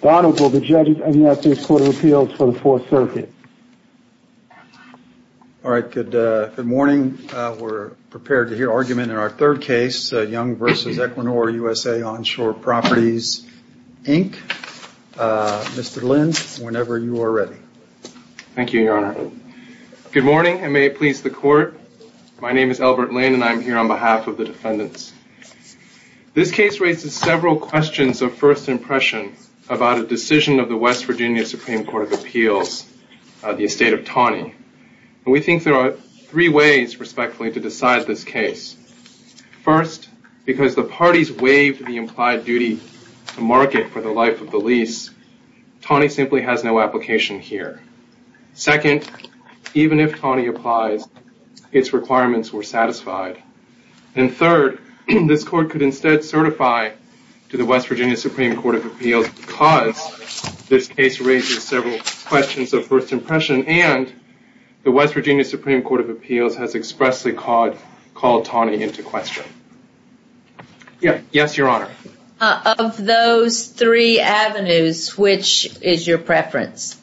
Donald, will the judges adopt this Court of Appeals for the 4th Circuit? All right, good morning. We're prepared to hear argument in our third case. Young v. Equinor USA Onshore Properties, Inc. Mr. Lin, whenever you are ready. Thank you, Your Honor. Good morning, and may it please the Court. My name is Albert Lin, and I'm here on behalf of the defendants. This case raises several questions of first impression about a decision of the West Virginia Supreme Court of Appeals, the estate of Taney. We think there are three ways, respectfully, to decide this case. First, because the parties waived the implied duty to market for the life of the lease, Taney simply has no application here. Second, even if Taney applies, its requirements were satisfied. And third, this Court could instead certify to the West Virginia Supreme Court of Appeals because this case raises several questions of first impression and the West Virginia Supreme Court of Appeals has expressly called Taney into question. Yes, Your Honor. Of those three avenues, which is your preference?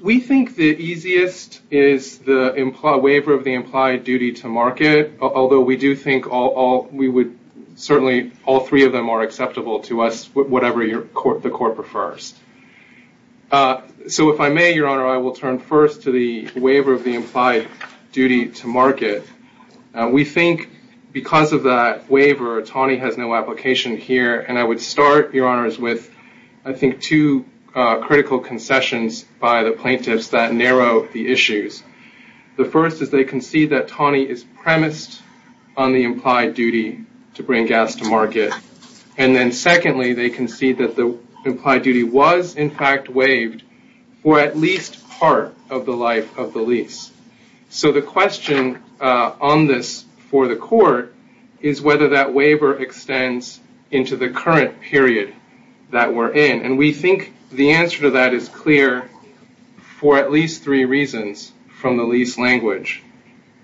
We think the easiest is the waiver of the implied duty to market, although we do think all three of them are acceptable to us, whatever the Court prefers. So if I may, Your Honor, I will turn first to the waiver of the implied duty to market. We think because of that waiver, Taney has no application here, and I would start, Your Honors, with I think two critical concessions by the plaintiffs that narrow the issues. The first is they concede that Taney is premised on the implied duty to bring gas to market. And then secondly, they concede that the implied duty was in fact waived for at least part of the life of the lease. So the question on this for the Court is whether that waiver extends into the current period that we're in. And we think the answer to that is clear for at least three reasons from the lease language.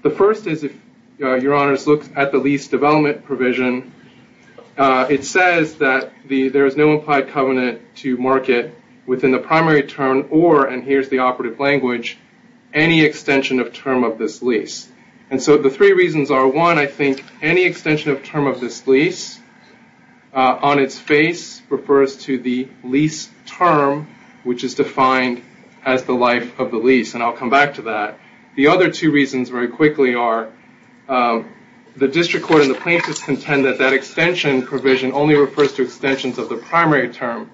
The first is, if Your Honors look at the lease development provision, it says that there is no implied covenant to market within the primary term or, and here's the operative language, any extension of term of this lease. And so the three reasons are, one, I think any extension of term of this lease on its face refers to the lease term, which is defined as the life of the lease, and I'll come back to that. The other two reasons very quickly are the district court and the plaintiffs contend that that extension provision only refers to extensions of the primary term.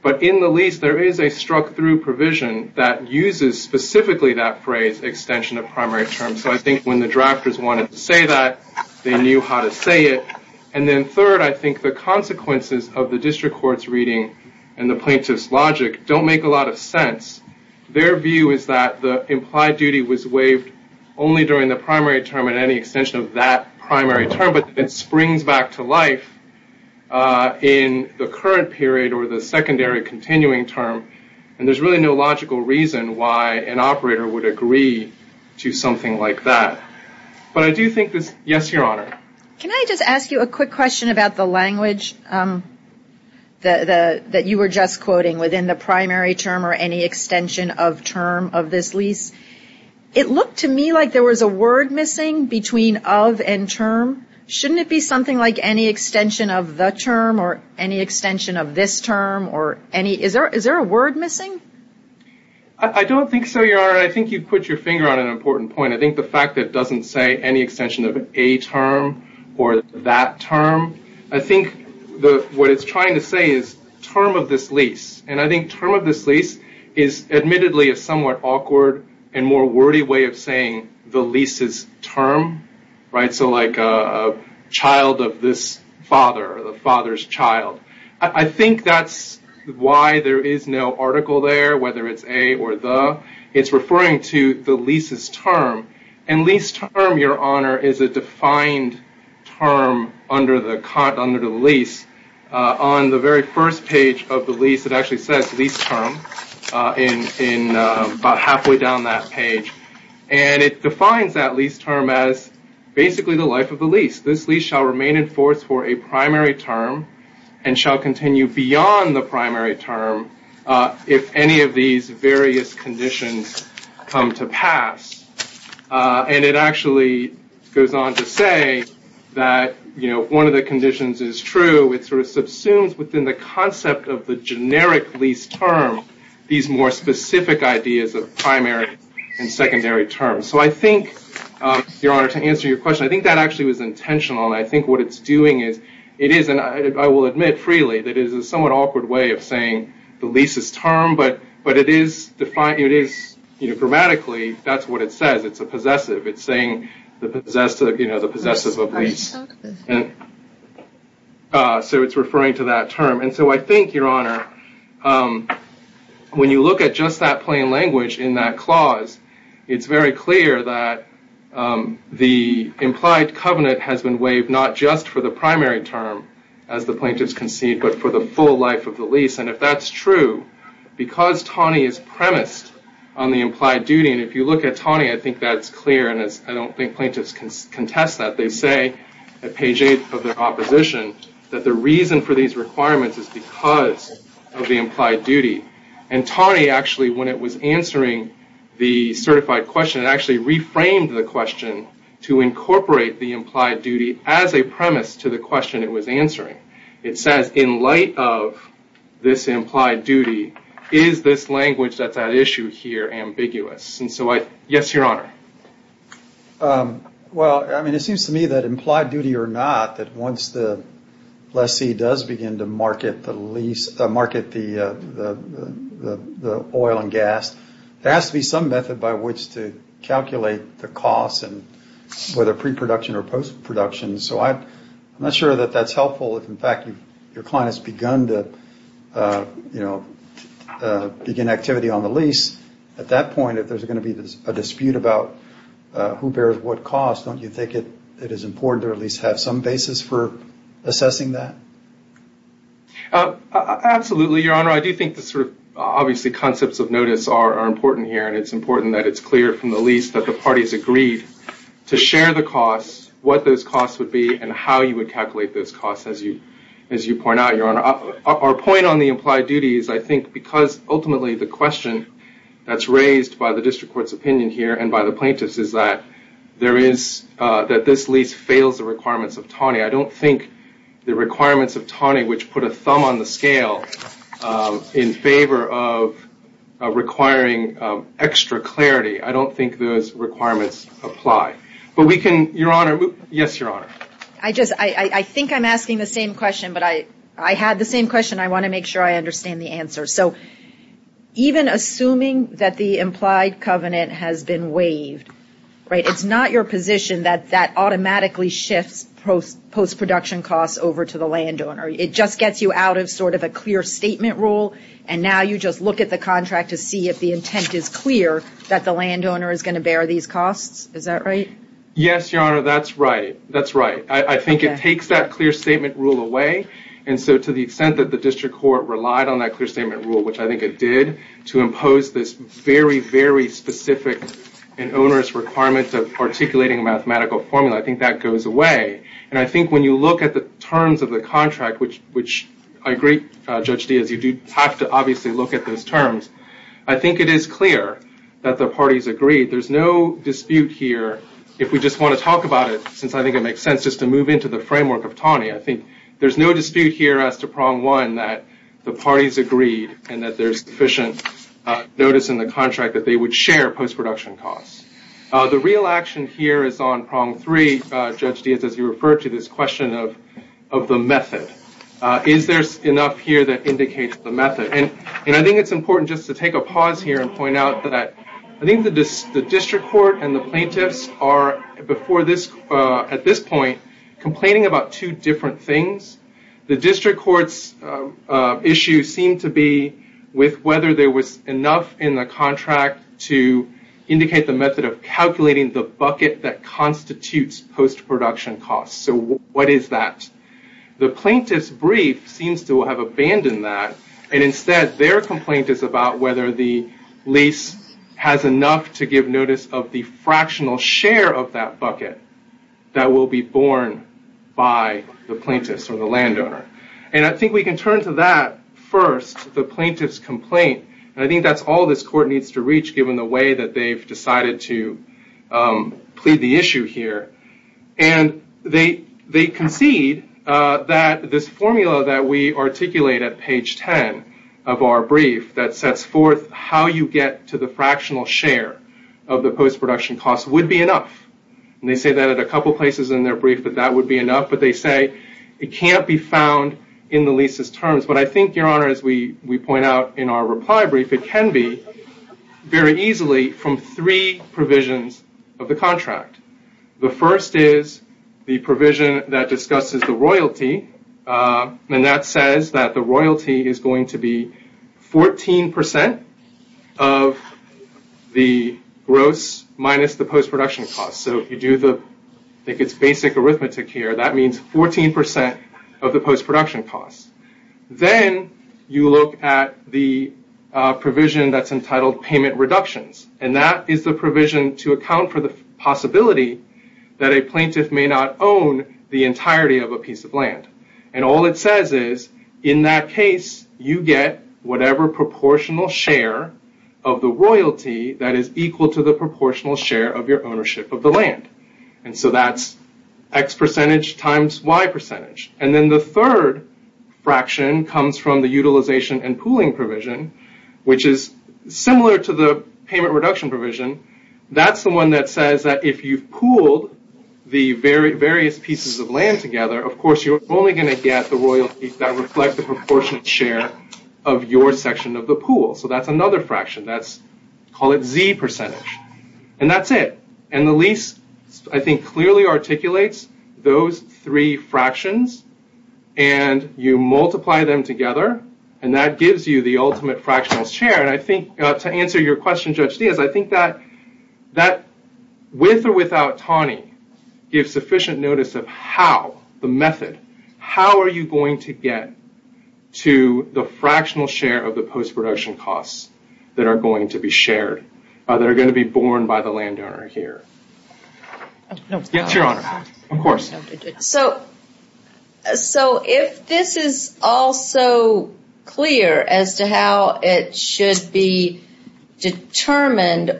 But in the lease, there is a struck-through provision that uses specifically that phrase, extension of primary term. So I think when the drafters wanted to say that, they knew how to say it. And then third, I think the consequences of the district court's reading and the plaintiff's logic don't make a lot of sense. Their view is that the implied duty was waived only during the primary term at any extension of that primary term, but it springs back to life in the current period or the secondary continuing term, and there's really no logical reason why an operator would agree to something like that. But I do think this, yes, Your Honor. Can I just ask you a quick question about the language that you were just quoting, within the primary term or any extension of term of this lease? It looked to me like there was a word missing between of and term. Shouldn't it be something like any extension of the term or any extension of this term or any? Is there a word missing? I don't think so, Your Honor. I think you've put your finger on an important point. I think the fact that it doesn't say any extension of a term or that term, I think what it's trying to say is term of this lease. And I think term of this lease is admittedly a somewhat awkward and more wordy way of saying the lease's term. So like a child of this father, the father's child. I think that's why there is no article there, whether it's a or the. It's referring to the lease's term. And lease term, Your Honor, is a defined term under the lease. On the very first page of the lease, it actually says lease term in about halfway down that page. And it defines that lease term as basically the life of the lease. This lease shall remain in force for a primary term and shall continue beyond the primary term if any of these various conditions come to pass. And it actually goes on to say that one of the conditions is true. It sort of subsumes within the concept of the generic lease term these more specific ideas of primary and secondary terms. So I think, Your Honor, to answer your question, I think that actually was intentional. And I think what it's doing is it is, and I will admit freely, that it is a somewhat awkward way of saying the lease's term. But it is, grammatically, that's what it says. It's a possessive. It's saying the possessive of lease. So it's referring to that term. And so I think, Your Honor, when you look at just that plain language in that clause, it's very clear that the implied covenant has been waived not just for the primary term, as the plaintiffs concede, but for the full life of the lease. And if that's true, because Taney is premised on the implied duty, and if you look at Taney, I think that's clear. And I don't think plaintiffs contest that. They say at page 8 of their opposition that the reason for these requirements is because of the implied duty. And Taney actually, when it was answering the certified question, it actually reframed the question to incorporate the implied duty as a premise to the question it was answering. It says, in light of this implied duty, is this language that's at issue here ambiguous? And so, yes, Your Honor. Well, I mean, it seems to me that implied duty or not, that once the lessee does begin to market the lease, market the oil and gas, there has to be some method by which to calculate the cost, whether pre-production or post-production. So I'm not sure that that's helpful if, in fact, your client has begun to, you know, begin activity on the lease. At that point, if there's going to be a dispute about who bears what cost, don't you think it is important to at least have some basis for assessing that? Absolutely, Your Honor. I do think the sort of, obviously, concepts of notice are important here, and it's important that it's clear from the lease that the parties agreed to share the costs, what those costs would be, and how you would calculate those costs, as you point out, Your Honor. Our point on the implied duty is, I think, because ultimately the question that's raised by the district court's opinion here and by the plaintiff's is that this lease fails the requirements of Taney. I don't think the requirements of Taney, which put a thumb on the scale in favor of requiring extra clarity, I don't think those requirements apply. But we can, Your Honor, yes, Your Honor. I just, I think I'm asking the same question, but I had the same question. I want to make sure I understand the answer. So even assuming that the implied covenant has been waived, right, it's not your position that that automatically shifts post-production costs over to the landowner. It just gets you out of sort of a clear statement rule, and now you just look at the contract to see if the intent is clear that the landowner is going to bear these costs. Is that right? Yes, Your Honor, that's right. That's right. I think it takes that clear statement rule away, and so to the extent that the district court relied on that clear statement rule, which I think it did, to impose this very, very specific and onerous requirement of articulating a mathematical formula, I think that goes away. And I think when you look at the terms of the contract, which I agree, Judge Diaz, you do have to obviously look at those terms, I think it is clear that the parties agreed. There's no dispute here. If we just want to talk about it, since I think it makes sense just to move into the framework of Taney, I think there's no dispute here as to prong one that the parties agreed and that there's sufficient notice in the contract that they would share post-production costs. The real action here is on prong three, Judge Diaz, as you referred to this question of the method. Is there enough here that indicates the method? And I think it's important just to take a pause here and point out that I think the district court and the plaintiffs are, at this point, complaining about two different things. The district court's issue seemed to be with whether there was enough in the contract to indicate the method of calculating the bucket that constitutes post-production costs. So what is that? The plaintiff's brief seems to have abandoned that. And instead, their complaint is about whether the lease has enough to give notice of the fractional share of that bucket that will be borne by the plaintiffs or the landowner. And I think we can turn to that first, the plaintiff's complaint. And I think that's all this court needs to reach, given the way that they've decided to plead the issue here. And they concede that this formula that we articulate at page 10 of our brief that sets forth how you get to the fractional share of the post-production costs would be enough. And they say that at a couple places in their brief that that would be enough, but they say it can't be found in the leases' terms. But I think, Your Honor, as we point out in our reply brief, I think it can be very easily from three provisions of the contract. The first is the provision that discusses the royalty. And that says that the royalty is going to be 14% of the gross minus the post-production costs. So if you do the basic arithmetic here, that means 14% of the post-production costs. Then you look at the provision that's entitled payment reductions. And that is the provision to account for the possibility that a plaintiff may not own the entirety of a piece of land. And all it says is, in that case, you get whatever proportional share of the royalty that is equal to the proportional share of your ownership of the land. And so that's X percentage times Y percentage. And then the third fraction comes from the utilization and pooling provision, which is similar to the payment reduction provision. That's the one that says that if you've pooled the various pieces of land together, of course you're only going to get the royalty that reflect the proportional share of your section of the pool. So that's another fraction. Call it Z percentage. And that's it. And the lease, I think, clearly articulates those three fractions. And you multiply them together. And that gives you the ultimate fractional share. And I think to answer your question, Judge Diaz, I think that with or without Taney, give sufficient notice of how, the method, how are you going to get to the fractional share of the post-production costs that are going to be shared, that are going to be borne by the landowner here. Yes, Your Honor. Of course. So if this is all so clear as to how it should be determined,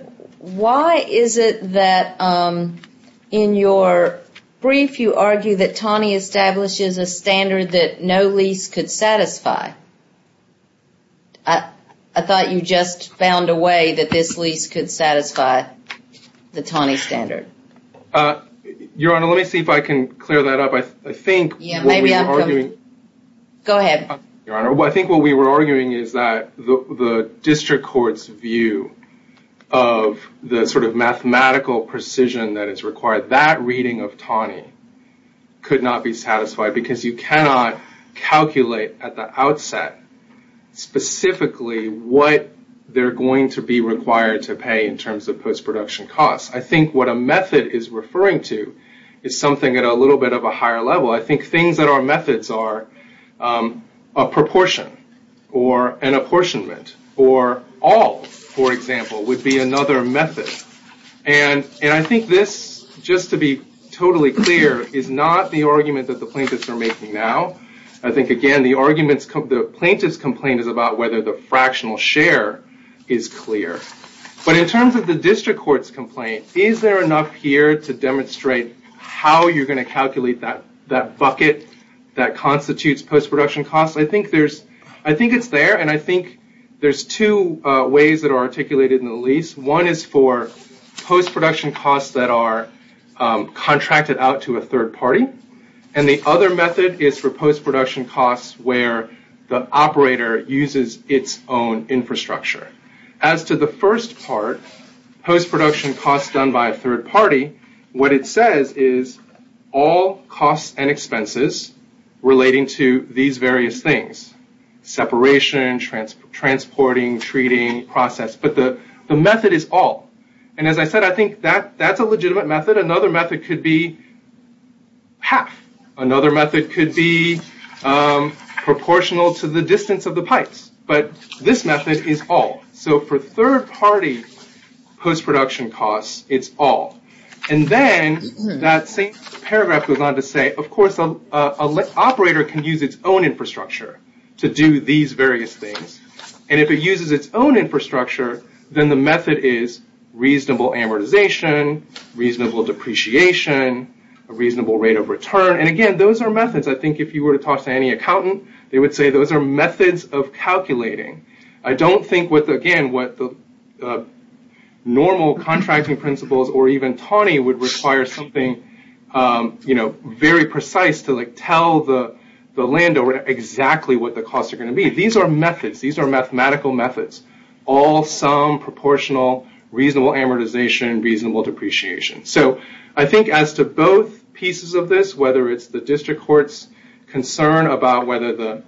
why is it that in your brief you argue that Taney establishes a standard that no lease could satisfy? I thought you just found a way that this lease could satisfy the Taney standard. Your Honor, let me see if I can clear that up. I think what we were arguing. Go ahead. Your Honor, I think what we were arguing is that the district court's view of the sort of mathematical precision that is required, that reading of Taney could not be satisfied because you cannot calculate at the outset specifically what they're going to be required to pay in terms of post-production costs. I think what a method is referring to is something at a little bit of a higher level. I think things that are methods are a proportion or an apportionment or all, for example, would be another method. And I think this, just to be totally clear, is not the argument that the plaintiffs are making now. I think, again, the plaintiff's complaint is about whether the fractional share is clear. But in terms of the district court's complaint, is there enough here to demonstrate how you're going to calculate that bucket that constitutes post-production costs? I think it's there, and I think there's two ways that are articulated in the lease. One is for post-production costs that are contracted out to a third party, and the other method is for post-production costs where the operator uses its own infrastructure. As to the first part, post-production costs done by a third party, what it says is all costs and expenses relating to these various things, separation, transporting, treating, process. But the method is all. And as I said, I think that's a legitimate method. Another method could be half. Another method could be proportional to the distance of the pipes. But this method is all. So for third party post-production costs, it's all. And then that same paragraph goes on to say, of course, an operator can use its own infrastructure to do these various things. And if it uses its own infrastructure, then the method is reasonable amortization, reasonable depreciation, a reasonable rate of return. And again, those are methods. I think if you were to talk to any accountant, they would say those are methods of calculating. I don't think, again, what the normal contracting principles or even TANI would require something very precise to tell the landowner exactly what the costs are going to be. These are methods. These are mathematical methods. All sum, proportional, reasonable amortization, reasonable depreciation. So I think as to both pieces of this, whether it's the district court's concern about whether the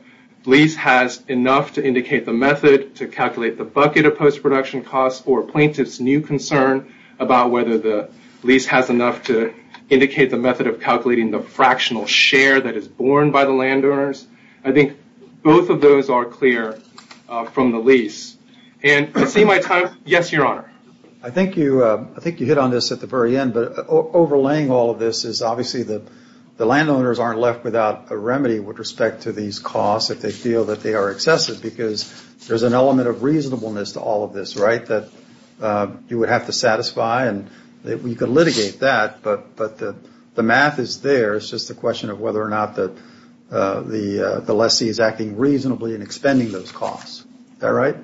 lease has enough to indicate the method to calculate the bucket of post-production costs, or plaintiff's new concern about whether the lease has enough to indicate the method of calculating the fractional share that is borne by the landowners, I think both of those are clear from the lease. And I see my time. Yes, Your Honor. I think you hit on this at the very end. But overlaying all of this is obviously the landowners aren't left without a remedy with respect to these costs if they feel that they are excessive, because there's an element of reasonableness to all of this, right, that you would have to satisfy. And we could litigate that. But the math is there. It's just a question of whether or not the lessee is acting reasonably in expending those costs. Is that right?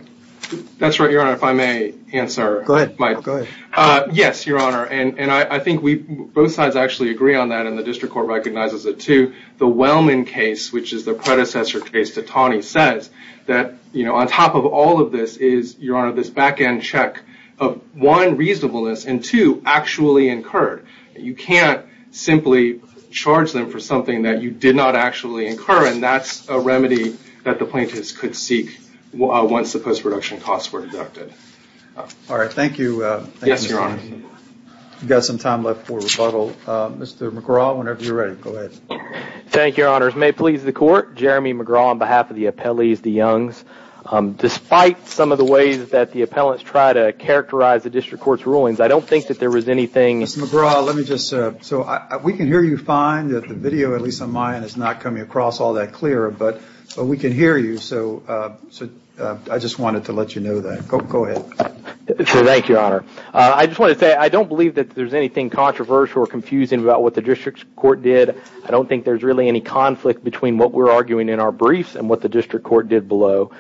That's right, Your Honor. If I may answer. Go ahead. Go ahead. Yes, Your Honor. And I think both sides actually agree on that, and the district court recognizes it, too. The Wellman case, which is the predecessor case to Tawny, says that on top of all of this is, Your Honor, this back-end check of, one, reasonableness, and, two, actually incurred. You can't simply charge them for something that you did not actually incur. And that's a remedy that the plaintiffs could seek once the post-production costs were deducted. All right. Thank you. Yes, Your Honor. We've got some time left for rebuttal. Mr. McGraw, whenever you're ready, go ahead. Thank you, Your Honors. May it please the Court. Jeremy McGraw on behalf of the appellees, the Youngs. Despite some of the ways that the appellants try to characterize the district court's rulings, I don't think that there was anything. Mr. McGraw, we can hear you fine. The video, at least on mine, is not coming across all that clear. But we can hear you, so I just wanted to let you know that. Go ahead. Thank you, Your Honor. I just want to say I don't believe that there's anything controversial or confusing about what the district court did. I don't think there's really any conflict between what we're arguing in our briefs and what the district court did below.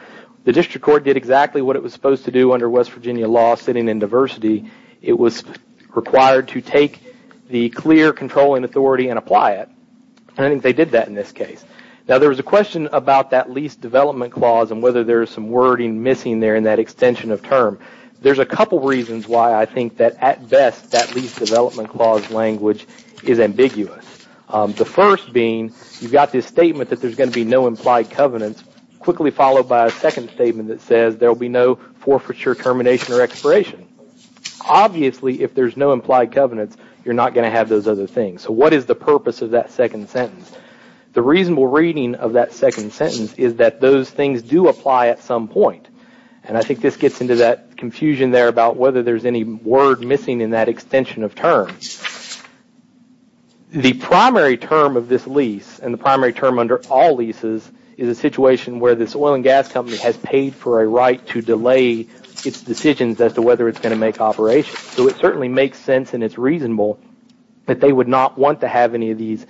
The district court did exactly what it was supposed to do under West Virginia law, sitting in diversity. It was required to take the clear controlling authority and apply it. I don't think they did that in this case. Now, there was a question about that lease development clause and whether there's some wording missing there in that extension of term. There's a couple reasons why I think that, at best, that lease development clause language is ambiguous. The first being you've got this statement that there's going to be no implied covenants, quickly followed by a second statement that says there will be no forfeiture, termination, or expiration. Obviously, if there's no implied covenants, you're not going to have those other things. So what is the purpose of that second sentence? The reasonable reading of that second sentence is that those things do apply at some point. And I think this gets into that confusion there about whether there's any word missing in that extension of term. The primary term of this lease and the primary term under all leases is a situation where this oil and gas company has paid for a right to delay its decisions as to whether it's going to make operations. So it certainly makes sense and it's reasonable that they would not want to have any of these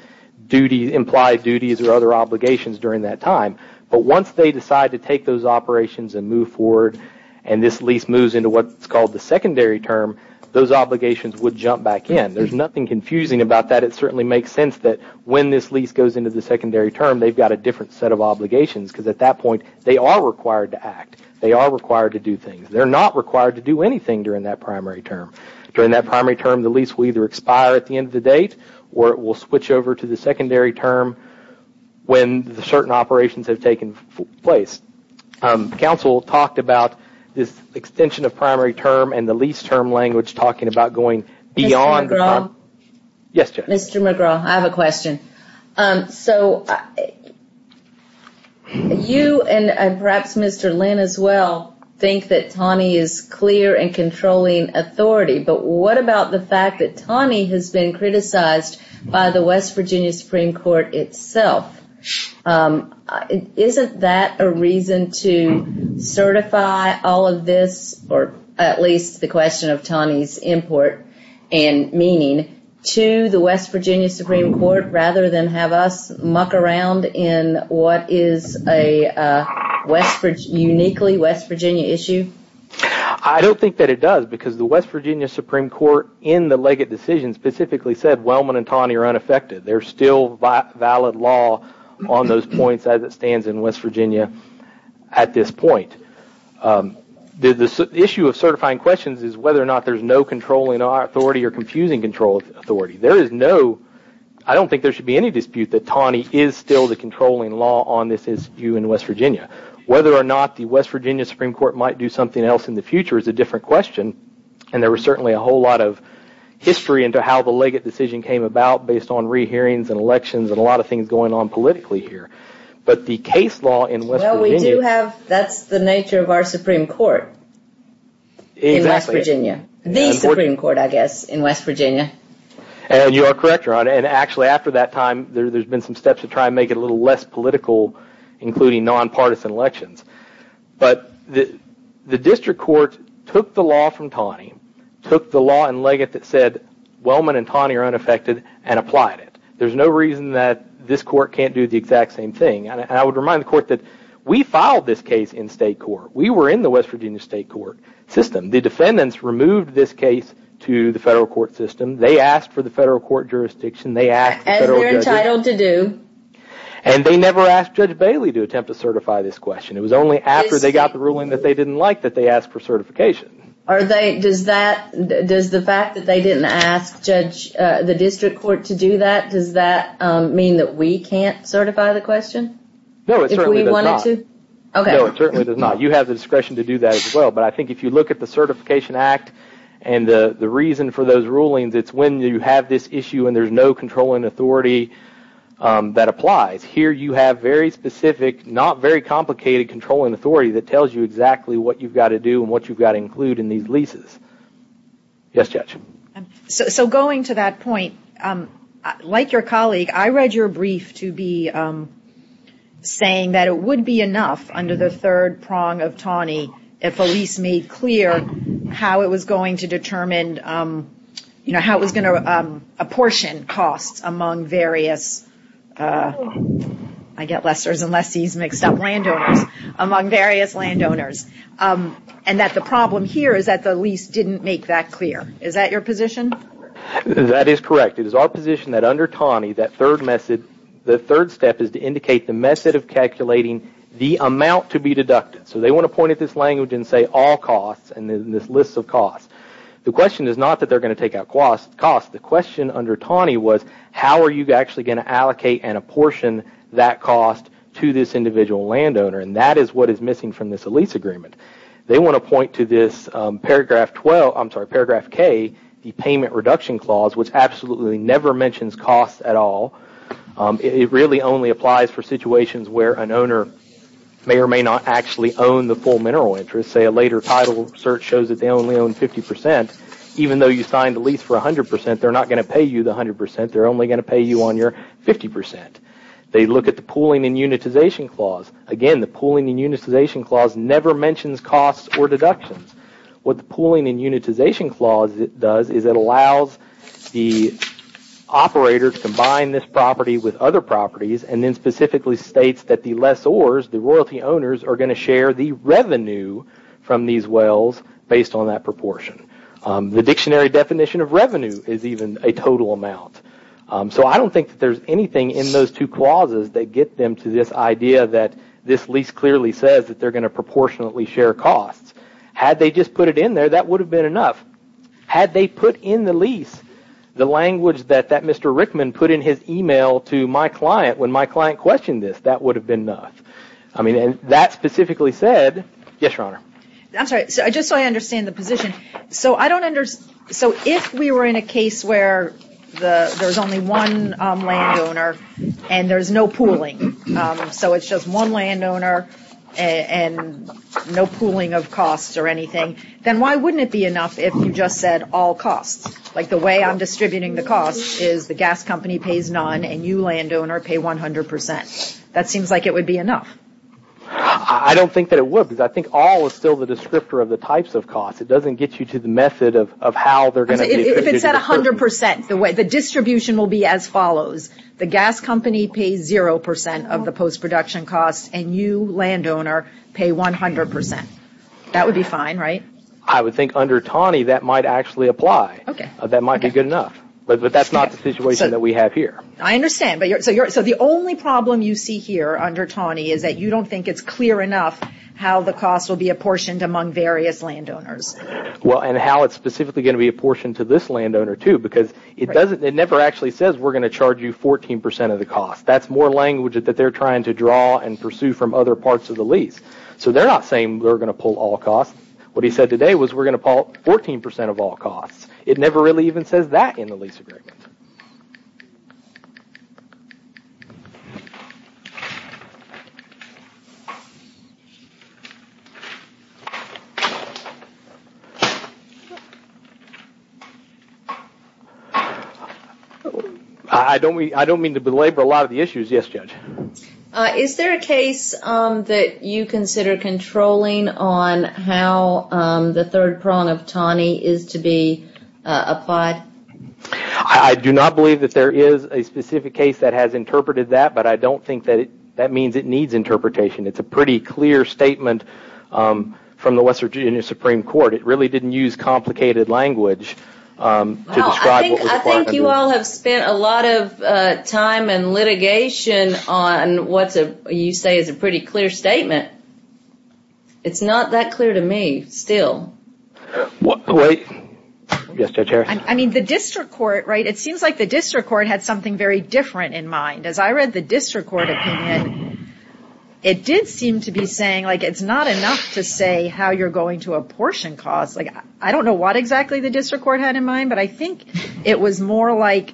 implied duties or other obligations during that time. But once they decide to take those operations and move forward and this lease moves into what's called the secondary term, those obligations would jump back in. There's nothing confusing about that. It certainly makes sense that when this lease goes into the secondary term, they've got a different set of obligations because at that point, they are required to act. They are required to do things. They're not required to do anything during that primary term. During that primary term, the lease will either expire at the end of the date or it will switch over to the secondary term when certain operations have taken place. The counsel talked about this extension of primary term and the lease term language talking about going beyond the primary term. Mr. McGraw. Yes, Judge. So you and perhaps Mr. Lynn as well think that TANI is clear and controlling authority. But what about the fact that TANI has been criticized by the West Virginia Supreme Court itself? Isn't that a reason to certify all of this or at least the question of TANI's import and meaning to the West Virginia Supreme Court rather than have us muck around in what is a uniquely West Virginia issue? I don't think that it does because the West Virginia Supreme Court in the Legate Decision specifically said Wellman and TANI are unaffected. There's still valid law on those points as it stands in West Virginia at this point. The issue of certifying questions is whether or not there's no controlling authority or confusing control authority. There is no – I don't think there should be any dispute that TANI is still the controlling law on this issue in West Virginia. Whether or not the West Virginia Supreme Court might do something else in the future is a different question. And there was certainly a whole lot of history into how the Legate Decision came about based on re-hearings and elections and a lot of things going on politically here. But the case law in West Virginia – Well, we do have – that's the nature of our Supreme Court in West Virginia. The Supreme Court, I guess, in West Virginia. And you are correct, Your Honor. And actually after that time, there's been some steps to try and make it a little less political including non-partisan elections. But the district court took the law from TANI, took the law in Legate that said Wellman and TANI are unaffected and applied it. There's no reason that this court can't do the exact same thing. And I would remind the court that we filed this case in state court. We were in the West Virginia state court system. The defendants removed this case to the federal court system. They asked for the federal court jurisdiction. They asked – As we're entitled to do. And they never asked Judge Bailey to attempt to certify this question. It was only after they got the ruling that they didn't like that they asked for certification. Are they – does the fact that they didn't ask the district court to do that, does that mean that we can't certify the question? No, it certainly does not. If we wanted to? No, it certainly does not. You have the discretion to do that as well. But I think if you look at the Certification Act and the reason for those rulings, it's when you have this issue and there's no controlling authority that applies. Here you have very specific, not very complicated controlling authority that tells you exactly what you've got to do and what you've got to include in these leases. Yes, Judge. So going to that point, like your colleague, I read your brief to be saying that it would be enough under the third prong of TANI if a lease made clear how it was going to determine – how it was going to apportion costs among various – I get lessors and lessees mixed up – landowners, among various landowners. And that the problem here is that the lease didn't make that clear. Is that your position? That is correct. It is our position that under TANI, that third method – the third step is to indicate the method of calculating the amount to be deducted. So they want to point at this language and say all costs and this list of costs. The question is not that they're going to take out costs. The question under TANI was how are you actually going to allocate and apportion that cost to this individual landowner? And that is what is missing from this lease agreement. They want to point to this paragraph 12 – I'm sorry, paragraph K, the payment reduction clause, which absolutely never mentions costs at all. It really only applies for situations where an owner may or may not actually own the full mineral interest. Say a later title search shows that they only own 50%. Even though you signed the lease for 100%, they're not going to pay you the 100%. They're only going to pay you on your 50%. They look at the pooling and unitization clause. Again, the pooling and unitization clause never mentions costs or deductions. What the pooling and unitization clause does is it allows the operator to combine this property with other properties and then specifically states that the lessors, the royalty owners, are going to share the revenue from these wells based on that proportion. The dictionary definition of revenue is even a total amount. So I don't think that there's anything in those two clauses that get them to this idea that this lease clearly says that they're going to proportionately share costs. Had they just put it in there, that would have been enough. Had they put in the lease the language that Mr. Rickman put in his email to my client when my client questioned this, that would have been enough. I mean, that specifically said, yes, Your Honor. I'm sorry, just so I understand the position. So if we were in a case where there's only one landowner and there's no pooling, so it's just one landowner and no pooling of costs or anything, then why wouldn't it be enough if you just said all costs? Like the way I'm distributing the costs is the gas company pays none and you, landowner, pay 100 percent. That seems like it would be enough. I don't think that it would because I think all is still the descriptor of the types of costs. It doesn't get you to the method of how they're going to be distributed. If it's at 100 percent, the distribution will be as follows. The gas company pays 0 percent of the post-production costs and you, landowner, pay 100 percent. That would be fine, right? I would think under Taney that might actually apply. That might be good enough. But that's not the situation that we have here. I understand. So the only problem you see here under Taney is that you don't think it's clear enough how the costs will be apportioned among various landowners. Well, and how it's specifically going to be apportioned to this landowner, too, because it never actually says we're going to charge you 14 percent of the cost. That's more language that they're trying to draw and pursue from other parts of the lease. So they're not saying we're going to pull all costs. What he said today was we're going to pull 14 percent of all costs. It never really even says that in the lease agreement. I don't mean to belabor a lot of the issues. Yes, Judge? Is there a case that you consider controlling on how the third prong of Taney is to be applied? I do not believe that there is a specific case that has interpreted that, but I don't think that means it needs interpretation. It's a pretty clear statement from the Western Virginia Supreme Court. It really didn't use complicated language to describe what was required. I think you all have spent a lot of time and litigation on what you say is a pretty clear statement. It's not that clear to me still. Wait. Yes, Judge Harris? I mean, the district court, right, it seems like the district court had something very different in mind. As I read the district court opinion, it did seem to be saying, like, it's not enough to say how you're going to apportion costs. Like, I don't know what exactly the district court had in mind, but I think it was more like,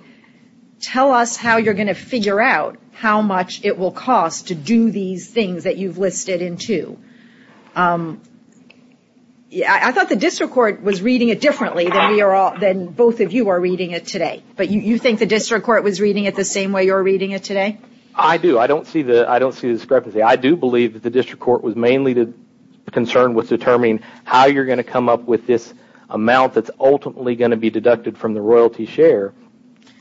tell us how you're going to figure out how much it will cost to do these things that you've listed in two. I thought the district court was reading it differently than both of you are reading it today. But you think the district court was reading it the same way you're reading it today? I do. I don't see the discrepancy. I do believe that the district court was mainly concerned with determining how you're going to come up with this amount that's ultimately going to be deducted from the royalty share.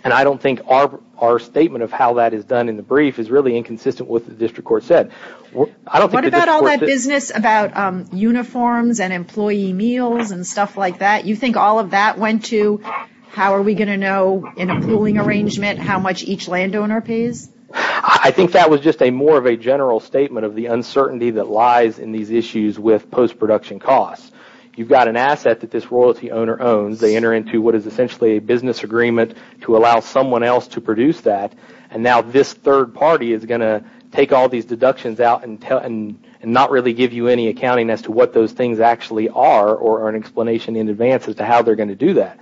And I don't think our statement of how that is done in the brief is really inconsistent with what the district court said. What about all that business about uniforms and employee meals and stuff like that? You think all of that went to how are we going to know in a pooling arrangement how much each landowner pays? I think that was just more of a general statement of the uncertainty that lies in these issues with post-production costs. You've got an asset that this royalty owner owns. They enter into what is essentially a business agreement to allow someone else to produce that. And now this third party is going to take all these deductions out and not really give you any accounting as to what those things actually are or an explanation in advance as to how they're going to do that.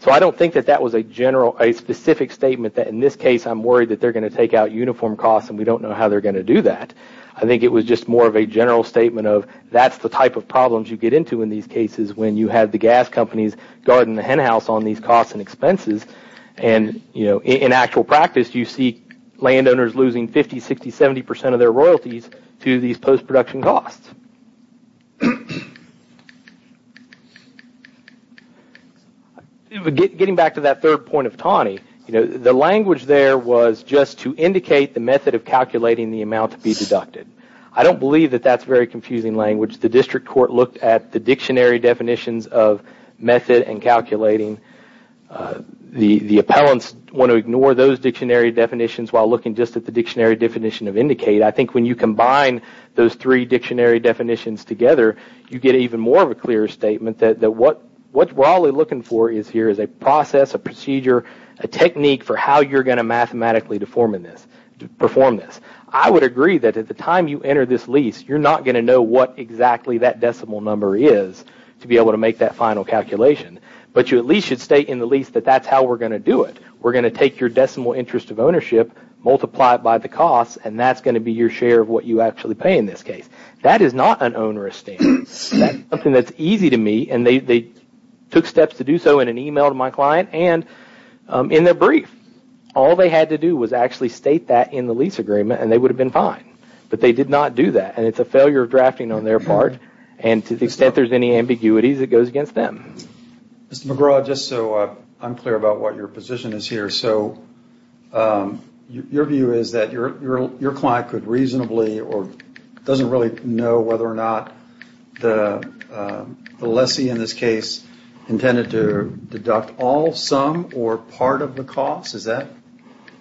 So I don't think that that was a specific statement that in this case I'm worried that they're going to take out uniform costs and we don't know how they're going to do that. I think it was just more of a general statement of that's the type of problems you get into in these cases when you have the gas companies guarding the hen house on these costs and expenses. And in actual practice, you see landowners losing 50%, 60%, 70% of their royalties to these post-production costs. Getting back to that third point of Tawny, the language there was just to indicate the method of calculating the amount to be deducted. I don't believe that that's very confusing language. The district court looked at the dictionary definitions of method and calculating. The appellants want to ignore those dictionary definitions while looking just at the dictionary definition of indicate. I think when you combine those three dictionary definitions together, you get even more of a clearer statement that what we're all looking for here is a process, a procedure, a technique for how you're going to mathematically perform this. I would agree that at the time you enter this lease, you're not going to know what exactly that decimal number is to be able to make that final calculation. But you at least should state in the lease that that's how we're going to do it. We're going to take your decimal interest of ownership, multiply it by the costs, and that's going to be your share of what you actually pay in this case. That is not an onerous statement. That's something that's easy to me, and they took steps to do so in an email to my client and in their brief. All they had to do was actually state that in the lease agreement, and they would have been fine. But they did not do that, and it's a failure of drafting on their part. And to the extent there's any ambiguities, it goes against them. Mr. McGraw, just so I'm clear about what your position is here. Your view is that your client could reasonably or doesn't really know whether or not the lessee in this case intended to deduct all, some, or part of the costs? Is that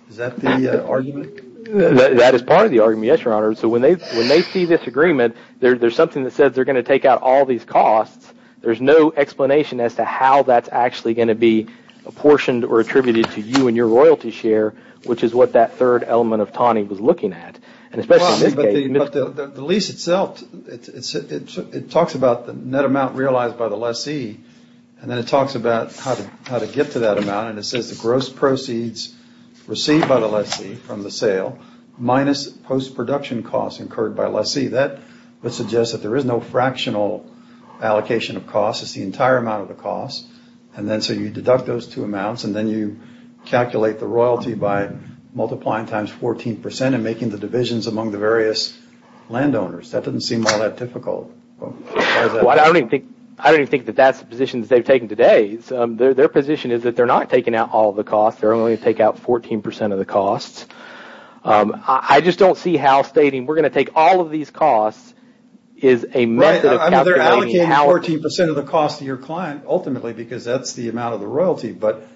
the argument? That is part of the argument, yes, Your Honor. So when they see this agreement, there's something that says they're going to take out all these costs. There's no explanation as to how that's actually going to be apportioned or attributed to you and your royalty share, which is what that third element of Tawny was looking at. But the lease itself, it talks about the net amount realized by the lessee, and then it talks about how to get to that amount. And it says the gross proceeds received by the lessee from the sale minus post-production costs incurred by lessee. That would suggest that there is no fractional allocation of costs. It's the entire amount of the costs. And then so you deduct those two amounts, and then you calculate the royalty by multiplying times 14% and making the divisions among the various landowners. That doesn't seem all that difficult. Well, I don't even think that that's the positions they've taken today. Their position is that they're not taking out all the costs. They're only going to take out 14% of the costs. I just don't see how stating we're going to take all of these costs is a method of calculating. Right, I mean, they're allocating 14% of the cost to your client ultimately because that's the amount of the royalty. But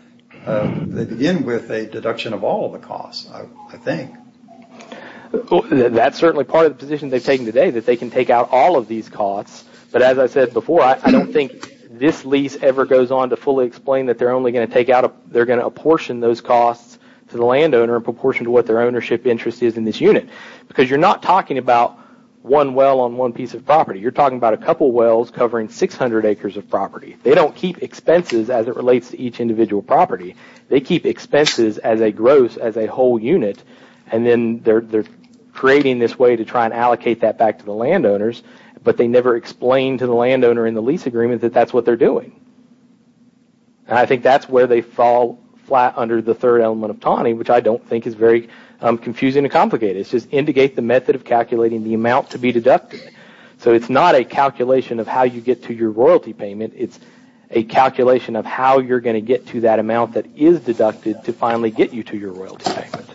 they begin with a deduction of all of the costs, I think. That's certainly part of the position they've taken today, that they can take out all of these costs. But as I said before, I don't think this lease ever goes on to fully explain that they're only going to take out – they're going to apportion those costs to the landowner in proportion to what their ownership interest is in this unit. Because you're not talking about one well on one piece of property. You're talking about a couple wells covering 600 acres of property. They don't keep expenses as it relates to each individual property. They keep expenses as a gross, as a whole unit, and then they're creating this way to try and allocate that back to the landowners. But they never explain to the landowner in the lease agreement that that's what they're doing. And I think that's where they fall flat under the third element of TANI, which I don't think is very confusing and complicated. It's just indicate the method of calculating the amount to be deducted. So it's not a calculation of how you get to your royalty payment. It's a calculation of how you're going to get to that amount that is deducted to finally get you to your royalty payment.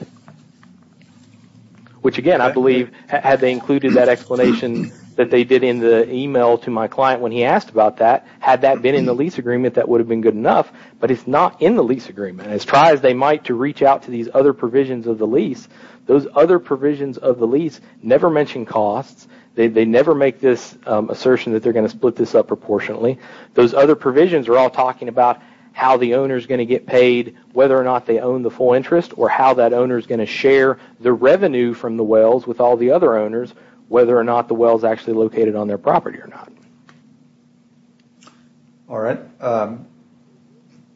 Which, again, I believe had they included that explanation that they did in the email to my client when he asked about that, had that been in the lease agreement, that would have been good enough. But it's not in the lease agreement. And as try as they might to reach out to these other provisions of the lease, those other provisions of the lease never mention costs. They never make this assertion that they're going to split this up proportionally. Those other provisions are all talking about how the owner is going to get paid, whether or not they own the full interest, or how that owner is going to share the revenue from the wells with all the other owners, whether or not the well is actually located on their property or not. All right.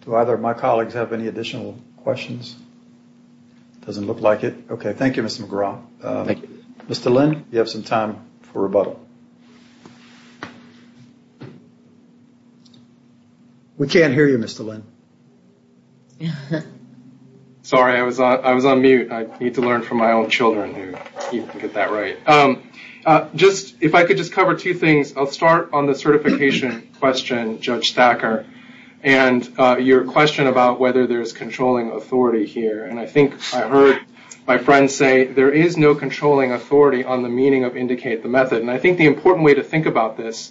Do either of my colleagues have any additional questions? Doesn't look like it. Okay. Thank you, Mr. McGraw. Thank you. Mr. Lynn, you have some time for rebuttal. We can't hear you, Mr. Lynn. Sorry. I was on mute. I need to learn from my own children. You can get that right. If I could just cover two things. I'll start on the certification question, Judge Thacker, and your question about whether there's controlling authority here. I think I heard my friend say there is no controlling authority on the meaning of indicate the method. I think the important way to think about this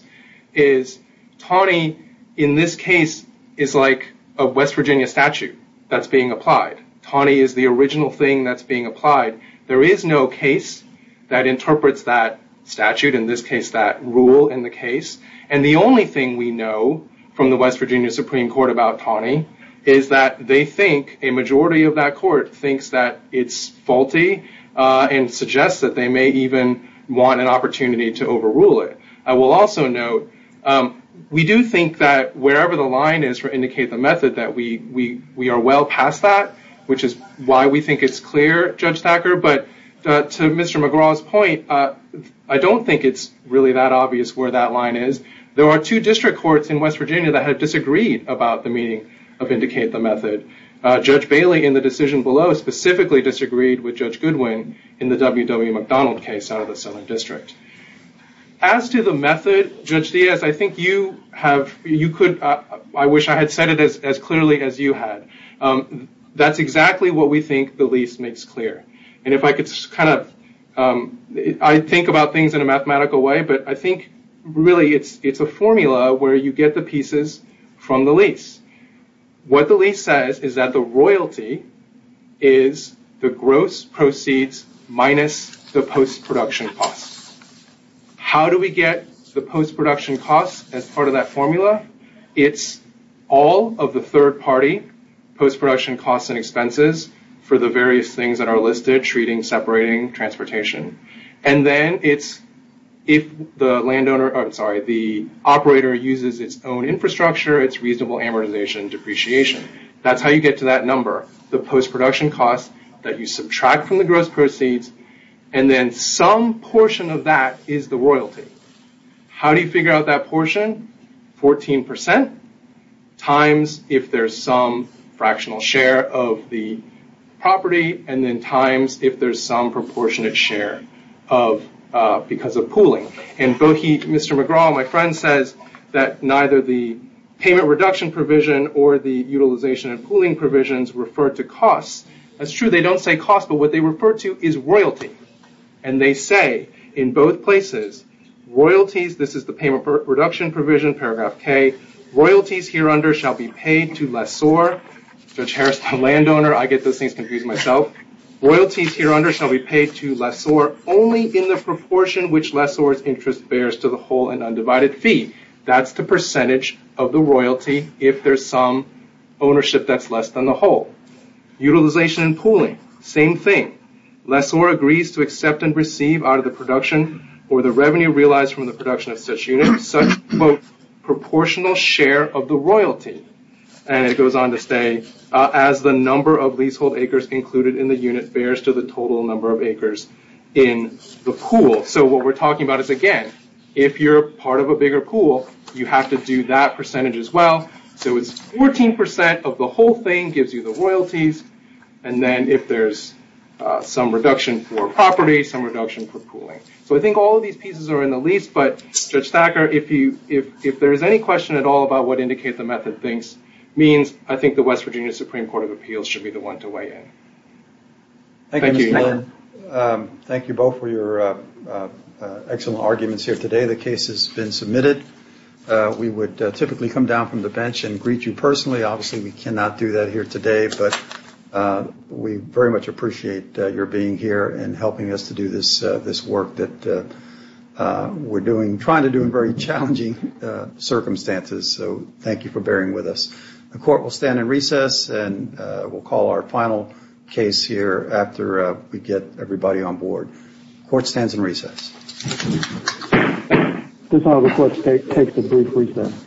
is Taney, in this case, is like a West Virginia statute that's being applied. Taney is the original thing that's being applied. There is no case that interprets that statute, in this case, that rule in the case. The only thing we know from the West Virginia Supreme Court about Taney is that they think a majority of that court thinks that it's faulty and suggests that they may even want an opportunity to overrule it. I will also note, we do think that wherever the line is for indicate the method, that we are well past that, which is why we think it's clear, Judge Thacker. To Mr. McGraw's point, I don't think it's really that obvious where that line is. There are two district courts in West Virginia that have disagreed about the meaning of indicate the method. Judge Bailey, in the decision below, specifically disagreed with Judge Goodwin in the W.W. McDonald case out of the Southern District. As to the method, Judge Diaz, I wish I had said it as clearly as you had. That's exactly what we think the lease makes clear. I think about things in a mathematical way, but I think really it's a formula where you get the pieces from the lease. What the lease says is that the royalty is the gross proceeds minus the post-production costs. How do we get the post-production costs as part of that formula? It's all of the third party post-production costs and expenses for the various things that are listed, treating, separating, transportation. Then it's if the operator uses its own infrastructure, it's reasonable amortization depreciation. That's how you get to that number, the post-production costs that you subtract from the gross proceeds. Then some portion of that is the royalty. How do you figure out that portion? 14% times if there's some fractional share of the property, and then times if there's some proportionate share because of pooling. Mr. McGraw, my friend, says that neither the payment reduction provision or the utilization and pooling provisions refer to costs. That's true. They don't say costs, but what they refer to is royalty. They say in both places, royalties, this is the payment reduction provision, paragraph K, royalties here under shall be paid to lessor. Judge Harris, the landowner, I get those things confused myself. Royalties here under shall be paid to lessor only in the proportion which lessor's interest bears to the whole and undivided fee. That's the percentage of the royalty if there's some ownership that's less than the whole. Utilization and pooling, same thing. Lessor agrees to accept and receive out of the production or the revenue realized from the production of such unit such, quote, proportional share of the royalty. It goes on to say, as the number of leasehold acres included in the unit bears to the total number of acres in the pool. What we're talking about is, again, if you're part of a bigger pool, you have to do that percentage as well. So it's 14% of the whole thing gives you the royalties, and then if there's some reduction for property, some reduction for pooling. So I think all of these pieces are in the lease, but Judge Thacker, if there's any question at all about what indicate the method thinks means, I think the West Virginia Supreme Court of Appeals should be the one to weigh in. Thank you. Thank you both for your excellent arguments here today. The case has been submitted. We would typically come down from the bench and greet you personally. Obviously, we cannot do that here today. But we very much appreciate your being here and helping us to do this work that we're trying to do in very challenging circumstances. So thank you for bearing with us. The court will stand in recess, and we'll call our final case here after we get everybody on board. Court stands in recess. This is how the court takes a brief recess.